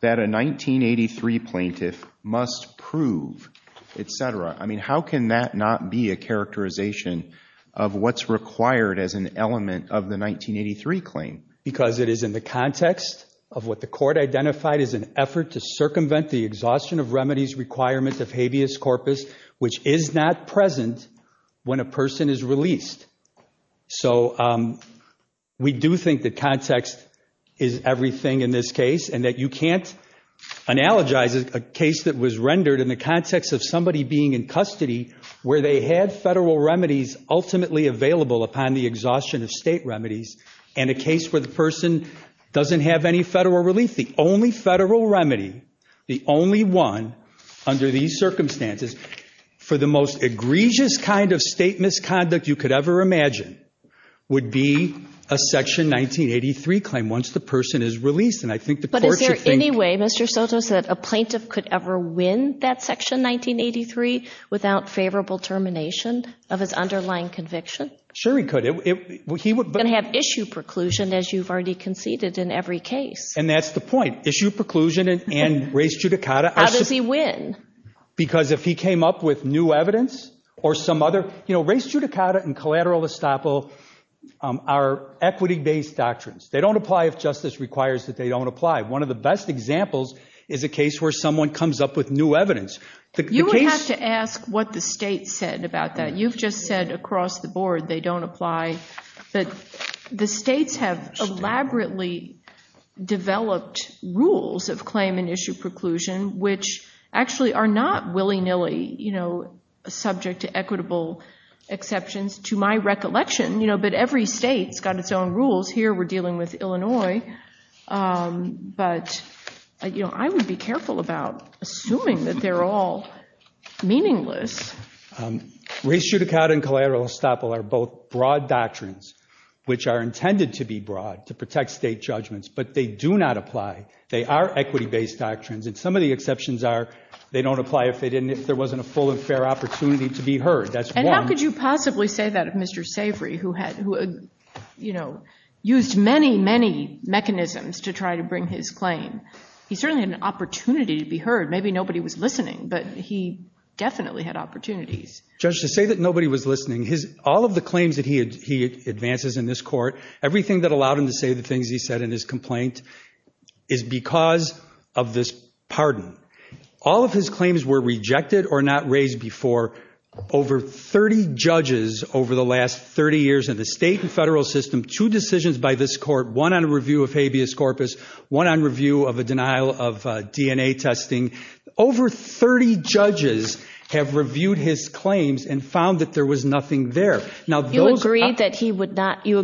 that a 1983 plaintiff must prove, et cetera. I mean, how can that not be a characterization of what's required as an element of the 1983 claim? Because it is in the context of what the court identified as an effort to circumvent the exhaustion of remedies requirements of habeas corpus, which is not present when a person is released. So we do think that context is everything in this case, and that you can't analogize a case that was rendered in the context of somebody being in custody, where they had federal remedies ultimately available upon the exhaustion of state remedies, and a case where the person doesn't have any federal relief. The only federal remedy, the only one under these circumstances, for the most egregious kind of state misconduct you could ever imagine, would be a section 1983 claim, once the person is released. And I think the court should think. But is there any way, Mr. Soto said, a plaintiff could ever win that section 1983 without favorable termination of his underlying conviction? Sure he could. He would have issue preclusion, as you've already conceded in every case. And that's the point. Issue preclusion and res judicata. How does he win? Because if he came up with new evidence or some other, you know, res judicata and collateral estoppel are equity-based doctrines. They don't apply if justice requires that they don't apply. One of the best examples is a case where someone comes up with new evidence. You would have to ask what the state said about that. You've just said across the board they don't apply. But the states have elaborately developed rules of claim and issue preclusion, which actually are not willy-nilly subject to equitable exceptions, to my recollection. But every state's got its own rules. Here we're dealing with Illinois. But I would be careful about assuming that they're all meaningless. Res judicata and collateral estoppel are both broad doctrines, which are intended to be broad, to protect state judgments. But they do not apply. They are equity-based doctrines. And some of the exceptions are they don't apply if there wasn't a full and fair opportunity to be heard. That's one. And how could you possibly say that of Mr. Savory, who used many, many mechanisms to try to bring his claim? He certainly had an opportunity to be heard. Maybe nobody was listening. But he definitely had opportunities. Judge, to say that nobody was listening, all of the claims that he advances in this court, everything that allowed him to say the things he said in his complaint is because of this pardon. All of his claims were rejected or not raised before. Over 30 judges over the last 30 years in the state and federal system, two decisions by this court, one on a review of habeas corpus, one on review of a denial of DNA testing, over 30 judges have reviewed his claims and found that there was nothing there. Now, those are- You agreed that he would not- you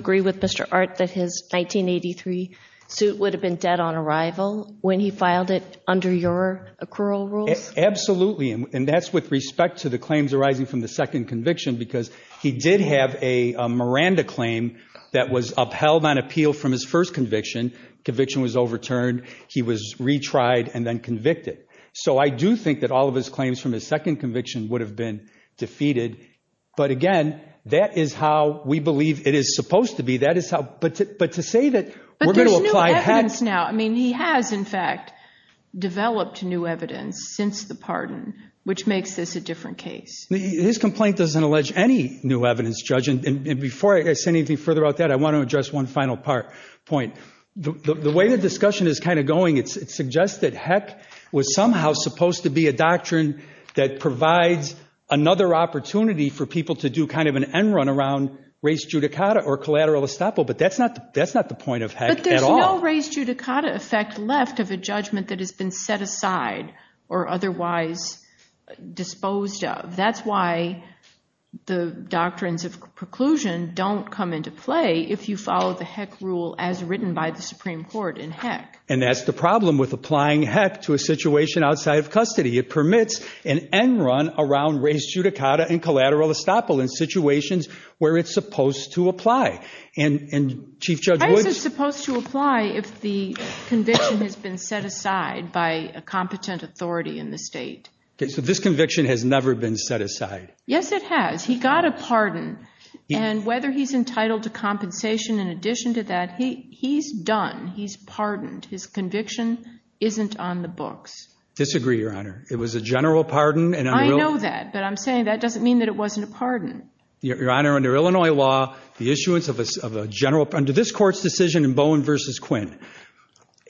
would have been dead on arrival when he filed it under your accrual rules? Absolutely. And that's with respect to the claims arising from the second conviction. Because he did have a Miranda claim that was upheld on appeal from his first conviction. Conviction was overturned. He was retried and then convicted. So I do think that all of his claims from his second conviction would have been defeated. But again, that is how we believe it is supposed to be. That is how- but to say that we're I mean, he has, in fact, developed new evidence since the pardon, which makes this a different case. His complaint doesn't allege any new evidence, Judge. And before I say anything further about that, I want to address one final point. The way the discussion is kind of going, it suggests that heck was somehow supposed to be a doctrine that provides another opportunity for people to do kind of an end run around res judicata or collateral estoppel. But that's not the point of heck at all. There's no res judicata effect left of a judgment that has been set aside or otherwise disposed of. That's why the doctrines of preclusion don't come into play if you follow the heck rule as written by the Supreme Court in heck. And that's the problem with applying heck to a situation outside of custody. It permits an end run around res judicata and collateral estoppel in situations where it's supposed to apply. And Chief Judge Woods? Heck is supposed to apply if the conviction has been set aside by a competent authority in the state. So this conviction has never been set aside. Yes, it has. He got a pardon. And whether he's entitled to compensation in addition to that, he's done. He's pardoned. His conviction isn't on the books. Disagree, Your Honor. It was a general pardon. I know that. But I'm saying that doesn't mean that it wasn't a pardon. Your Honor, under Illinois law, the issuance of a general pardon, under this court's decision in Bowen versus Quinn,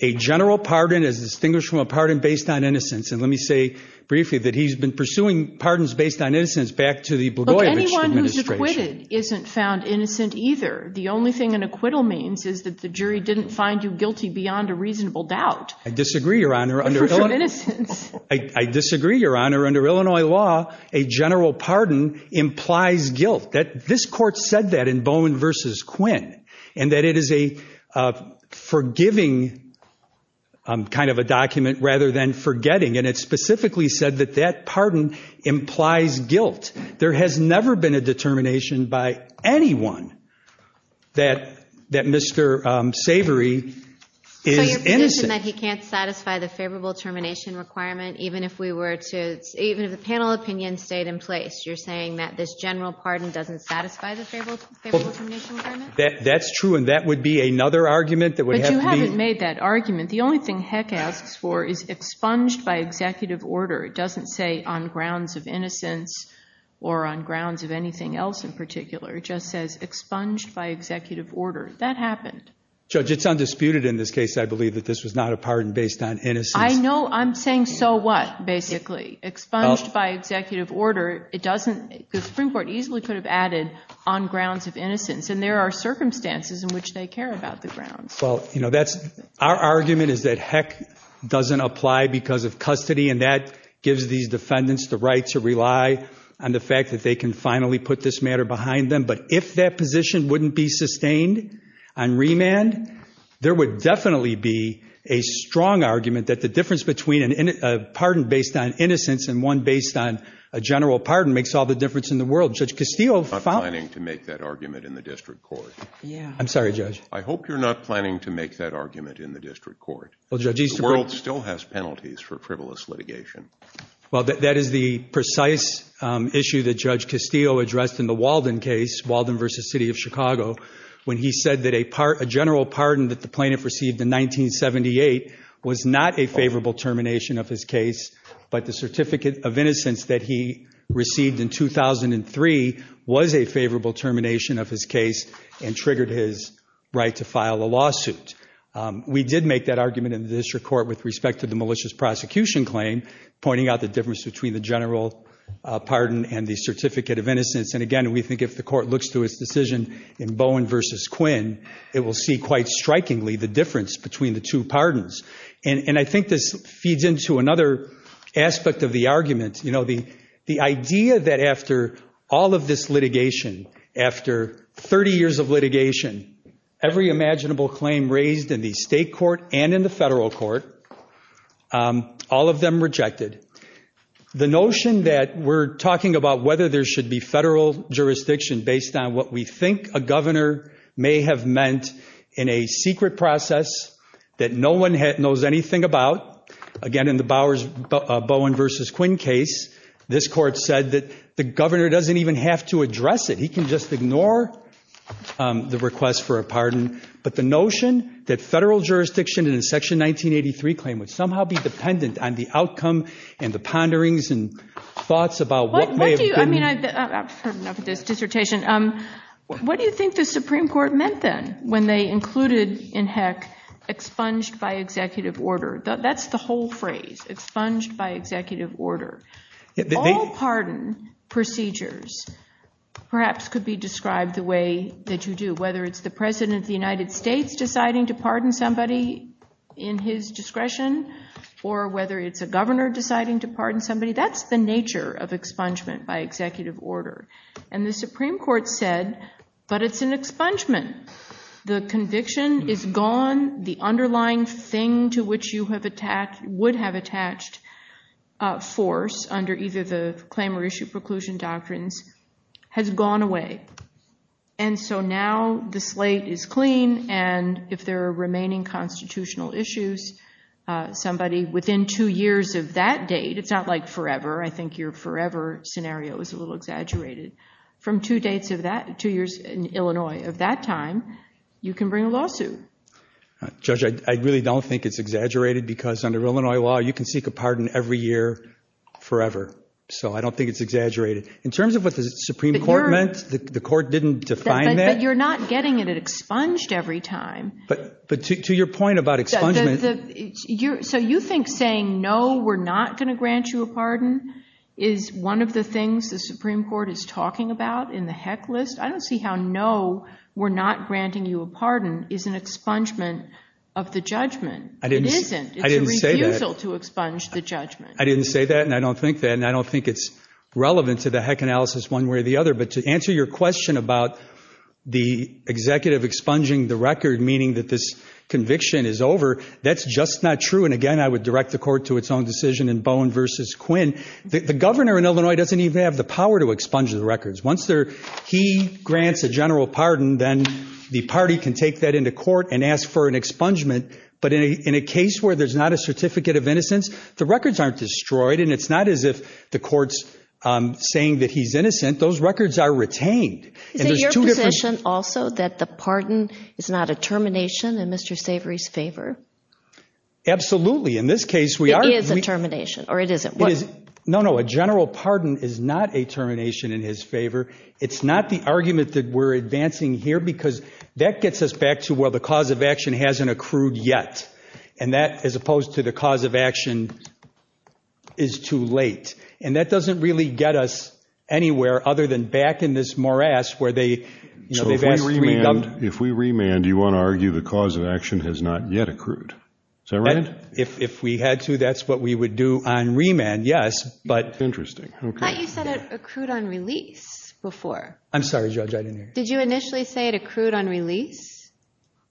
a general pardon is distinguished from a pardon based on innocence. And let me say briefly that he's been pursuing pardons based on innocence back to the Blagojevich administration. Look, anyone who's acquitted isn't found innocent either. The only thing an acquittal means is that the jury didn't find you guilty beyond a reasonable doubt. I disagree, Your Honor. Under Illinois law, I disagree, Your Honor. Under Illinois law, a general pardon implies guilt. This court said that in Bowen versus Quinn, and that it is a forgiving kind of a document rather than forgetting. And it specifically said that that pardon implies guilt. There has never been a determination by anyone that Mr. Savory is innocent. So you're position that he can't satisfy the favorable termination requirement, even if we were to, even if the panel opinion stayed in place. You're saying that this general pardon doesn't satisfy the favorable termination requirement? That's true. And that would be another argument that would have to be. But you haven't made that argument. The only thing Heck asks for is expunged by executive order. It doesn't say on grounds of innocence or on grounds of anything else in particular. It just says expunged by executive order. That happened. Judge, it's undisputed in this case, I believe, that this was not a pardon based on innocence. I know. I'm saying so what, basically? Expunged by executive order. Because the Supreme Court easily could have added on grounds of innocence. And there are circumstances in which they care about the grounds. Well, our argument is that Heck doesn't apply because of custody. And that gives these defendants the right to rely on the fact that they can finally put this matter behind them. But if that position wouldn't be sustained on remand, there would definitely be a strong argument that the difference between a pardon based on innocence and one based on a general pardon makes all the difference in the world. Judge Castillo found that. I'm not planning to make that argument in the district court. I'm sorry, Judge. I hope you're not planning to make that argument in the district court. The world still has penalties for frivolous litigation. Well, that is the precise issue that Judge Castillo addressed in the Walden case, Walden versus City of Chicago, when he said that a general pardon that the plaintiff received in 1978 was not a favorable termination of his case. But the certificate of innocence that he received in 2003 was a favorable termination of his case and triggered his right to file a lawsuit. We did make that argument in the district court with respect to the malicious prosecution claim, pointing out the difference between the general pardon and the certificate of innocence. And again, we think if the court looks through its decision in Bowen versus Quinn, it will see quite strikingly the difference between the two pardons. And I think this feeds into another aspect of the argument, the idea that after all of this litigation, after 30 years of litigation, every imaginable claim raised in the state court and in the federal court, all of them rejected. The notion that we're talking about whether there should be federal jurisdiction based on what we think a governor may have meant in a secret process that no one knows anything about. Again, in the Bowen versus Quinn case, this court said that the governor doesn't even have to address it. He can just ignore the request for a pardon. But the notion that federal jurisdiction in Section 1983 claim would somehow be dependent on the outcome and the ponderings and thoughts about what may have been. I mean, I've heard enough of this dissertation. What do you think the Supreme Court meant then when they included, in heck, expunged by executive order? That's the whole phrase, expunged by executive order. All pardon procedures perhaps could be described the way that you do, whether it's the President of the United States deciding to pardon somebody in his discretion or whether it's a governor deciding to pardon somebody. That's the nature of expungement by executive order. And the Supreme Court said, but it's an expungement. The conviction is gone. The underlying thing to which you would have attached force under either the claim or issue preclusion doctrines has gone away. And so now the slate is clean. And if there are remaining constitutional issues, somebody within two years of that date, it's not like forever. I think your forever scenario is a little exaggerated. From two years in Illinois of that time, you can bring a lawsuit. Judge, I really don't think it's exaggerated because under Illinois law, you can seek a pardon every year forever. So I don't think it's exaggerated. In terms of what the Supreme Court meant, the court didn't define that. But you're not getting it expunged every time. But to your point about expungement. So you think saying no, we're not going to grant you a pardon is one of the things the Supreme Court is talking about in the heck list? I don't see how no, we're not granting you a pardon is an expungement of the judgment. It isn't. It's a refusal to expunge the judgment. I didn't say that, and I don't think that. And I don't think it's relevant to the heck analysis one way or the other. But to answer your question about the executive expunging the record, meaning that this conviction is over, that's just not true. And again, I would direct the court to its own decision in Bowen versus Quinn. The governor in Illinois doesn't even have the power to expunge the records. Once he grants a general pardon, then the party can take that into court and ask for an expungement. But in a case where there's not a certificate of innocence, the records aren't destroyed. And it's not as if the court's saying that he's innocent. Those records are retained. Is it your position also that the pardon is not a termination in Mr. Savory's favor? Absolutely. In this case, we are. It is a termination. Or it isn't. No, no, a general pardon is not a termination in his favor. It's not the argument that we're advancing here, because that gets us back to where the cause of action hasn't accrued yet. And that, as opposed to the cause of action, is too late. And that doesn't really get us anywhere other than back in this morass where they've asked three gums. But if we remand, do you want to argue the cause of action has not yet accrued? Is that right? If we had to, that's what we would do on remand, yes. But- Interesting. OK. But you said it accrued on release before. I'm sorry, Judge. Did you initially say it accrued on release?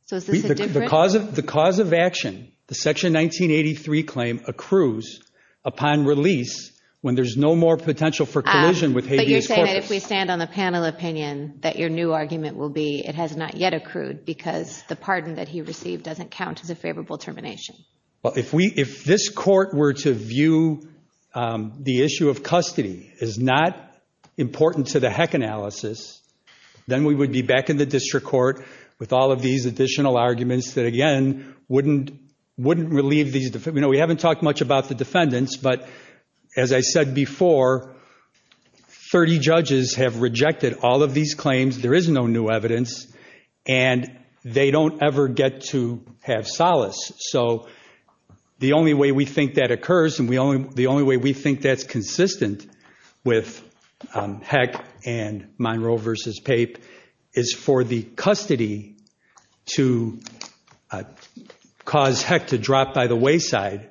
So is this a different- The cause of action, the Section 1983 claim, accrues upon release when there's no more potential for collision with habeas corpus. But you're saying that if we stand on the panel opinion, that your new argument will be it has not yet accrued, because the pardon that he received doesn't count as a favorable termination. Well, if this court were to view the issue of custody as not important to the heck analysis, then we would be back in the district court with all of these additional arguments that, again, wouldn't relieve these defendants. We haven't talked much about the defendants. But as I said before, 30 judges have rejected all of these claims. There is no new evidence. And they don't ever get to have solace. So the only way we think that occurs, and the only way we think that's consistent with Heck and Monroe versus Pape, is for the custody to cause Heck to drop by the wayside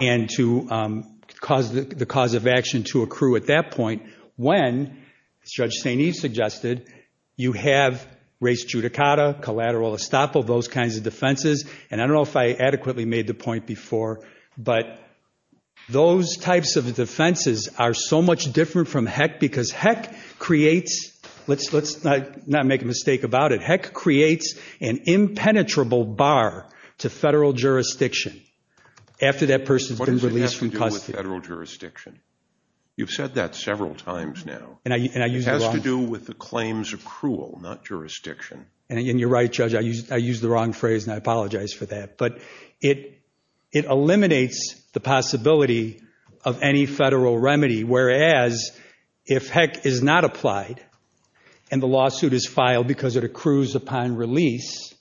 and to cause the cause of action to accrue at that point when, as Judge St. Eve suggested, you have res judicata, collateral estoppel, those kinds of defenses. And I don't know if I adequately made the point before, but those types of defenses are so much different from Heck because Heck creates, let's not make a mistake about it, Heck creates an impenetrable bar to federal jurisdiction after that person's been released from custody. What does it have to do with federal jurisdiction? You've said that several times now. It has to do with the claims accrual, not jurisdiction. And you're right, Judge, I used the wrong phrase and I apologize for that. But it eliminates the possibility of any federal remedy, whereas if Heck is not applied and the lawsuit is filed because it accrues upon release,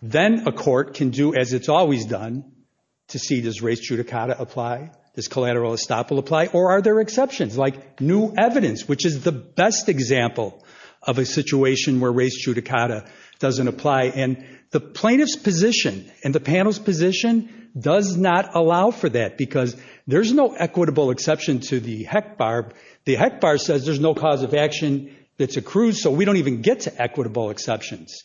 then a court can do as it's always done to see does res judicata apply, does collateral estoppel apply, or are there exceptions like new evidence, which is the best example of a situation where res judicata doesn't apply. And the plaintiff's position and the panel's position does not allow for that because there's no equitable exception to the Heck bar. The Heck bar says there's no cause of action that's accrued so we don't even get to equitable exceptions.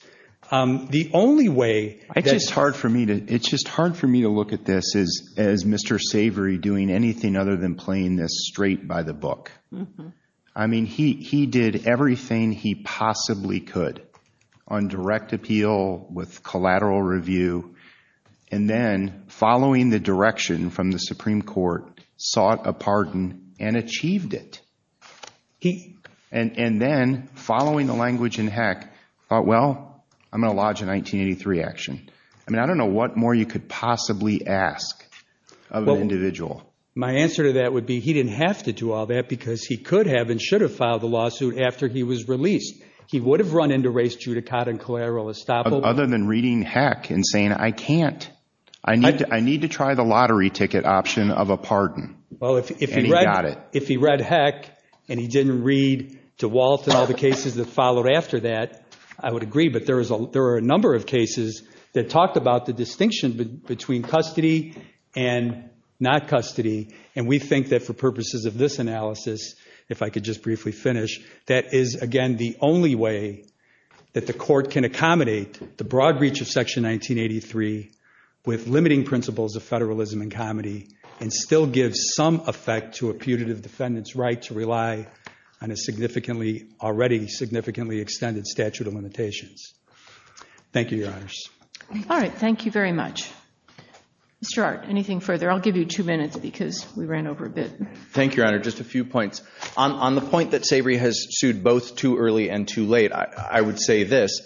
The only way that- It's just hard for me to look at this as Mr. Savory doing anything other than playing this straight by the book. I mean, he did everything he possibly could on direct appeal with collateral review and then following the direction from the Supreme Court, sought a pardon and achieved it. And then following the language in Heck, thought, well, I'm gonna lodge a 1983 action. I mean, I don't know what more you could possibly ask of an individual. My answer to that would be he didn't have to do all that because he could have and should have filed the lawsuit after he was released. He would have run into res judicata and collateral estoppel. Other than reading Heck and saying, I can't, I need to try the lottery ticket option of a pardon. Well, if he read Heck and he didn't read to Walt and all the cases that followed after that, I would agree, but there are a number of cases that talked about the distinction between custody and not custody. And we think that for purposes of this analysis, if I could just briefly finish, that is, again, the only way that the court can accommodate the broad reach of section 1983 with limiting principles of federalism and comedy and still give some effect to a putative defendant's right to rely on a significantly, already significantly extended statute of limitations. Thank you, your honors. All right, thank you very much. Mr. Art, anything further? I'll give you two minutes because we ran over a bit. Thank you, your honor. Just a few points. On the point that Savory has sued both too early and too late, I would say this.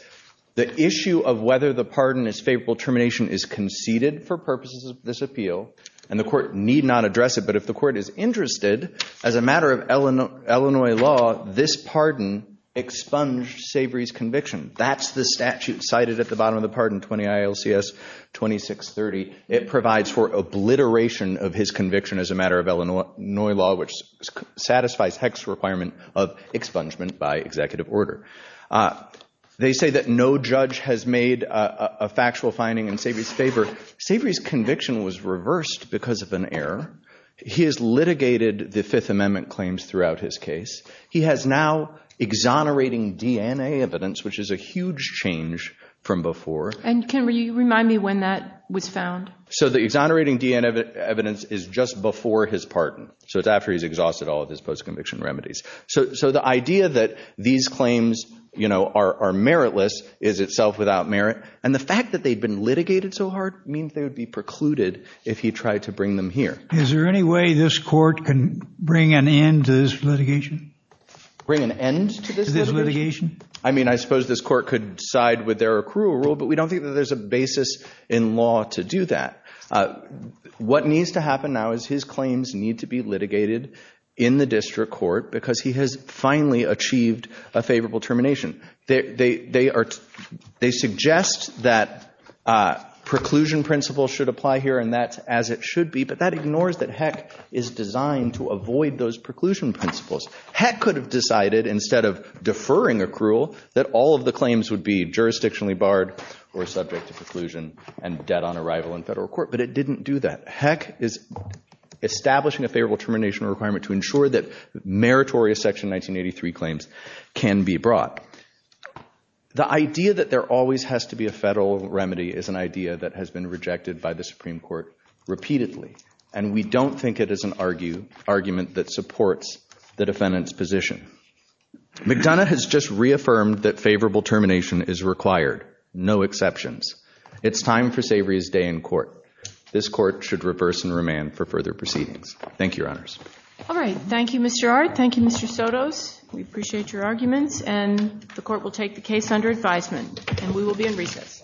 The issue of whether the pardon is favorable termination is conceded for purposes of this appeal and the court need not address it, but if the court is interested, as a matter of Illinois law, this pardon expunged Savory's conviction. That's the statute cited at the bottom of the pardon, 20 ILCS 2630. It provides for obliteration of his conviction as a matter of Illinois law, which satisfies Heck's requirement of expungement by executive order. They say that no judge has made a factual finding in Savory's favor. Savory's conviction was reversed because of an error. He has litigated the Fifth Amendment claims throughout his case. He has now exonerating DNA evidence, which is a huge change from before. And can you remind me when that was found? So the exonerating DNA evidence is just before his pardon. So it's after he's exhausted all of his post-conviction remedies. So the idea that these claims are meritless is itself without merit. And the fact that they've been litigated so hard means they would be precluded if he tried to bring them here. Is there any way this court can bring an end to this litigation? Bring an end to this litigation? I mean, I suppose this court could side with their accrual rule, but we don't think that there's a basis in law to do that. What needs to happen now is his claims need to be litigated in the district court because he has finally achieved a favorable termination. They suggest that preclusion principles should apply here and that's as it should be, but that ignores that Heck is designed to avoid those preclusion principles. Heck could have decided instead of deferring accrual that all of the claims would be jurisdictionally barred or subject to preclusion and dead on arrival in federal court, but it didn't do that. Heck is establishing a favorable termination requirement to ensure that meritorious Section 1983 claims can be brought. The idea that there always has to be a federal remedy is an idea that has been rejected by the Supreme Court repeatedly and we don't think it is an argument that supports the defendant's position. McDonough has just reaffirmed that favorable termination is required, no exceptions. It's time for Savory's day in court. This court should reverse and remand for further proceedings. Thank you, Your Honors. All right. Thank you, Mr. Art. Thank you, Mr. Sotos. We appreciate your arguments and the court will take the case under advisement and we will be in recess.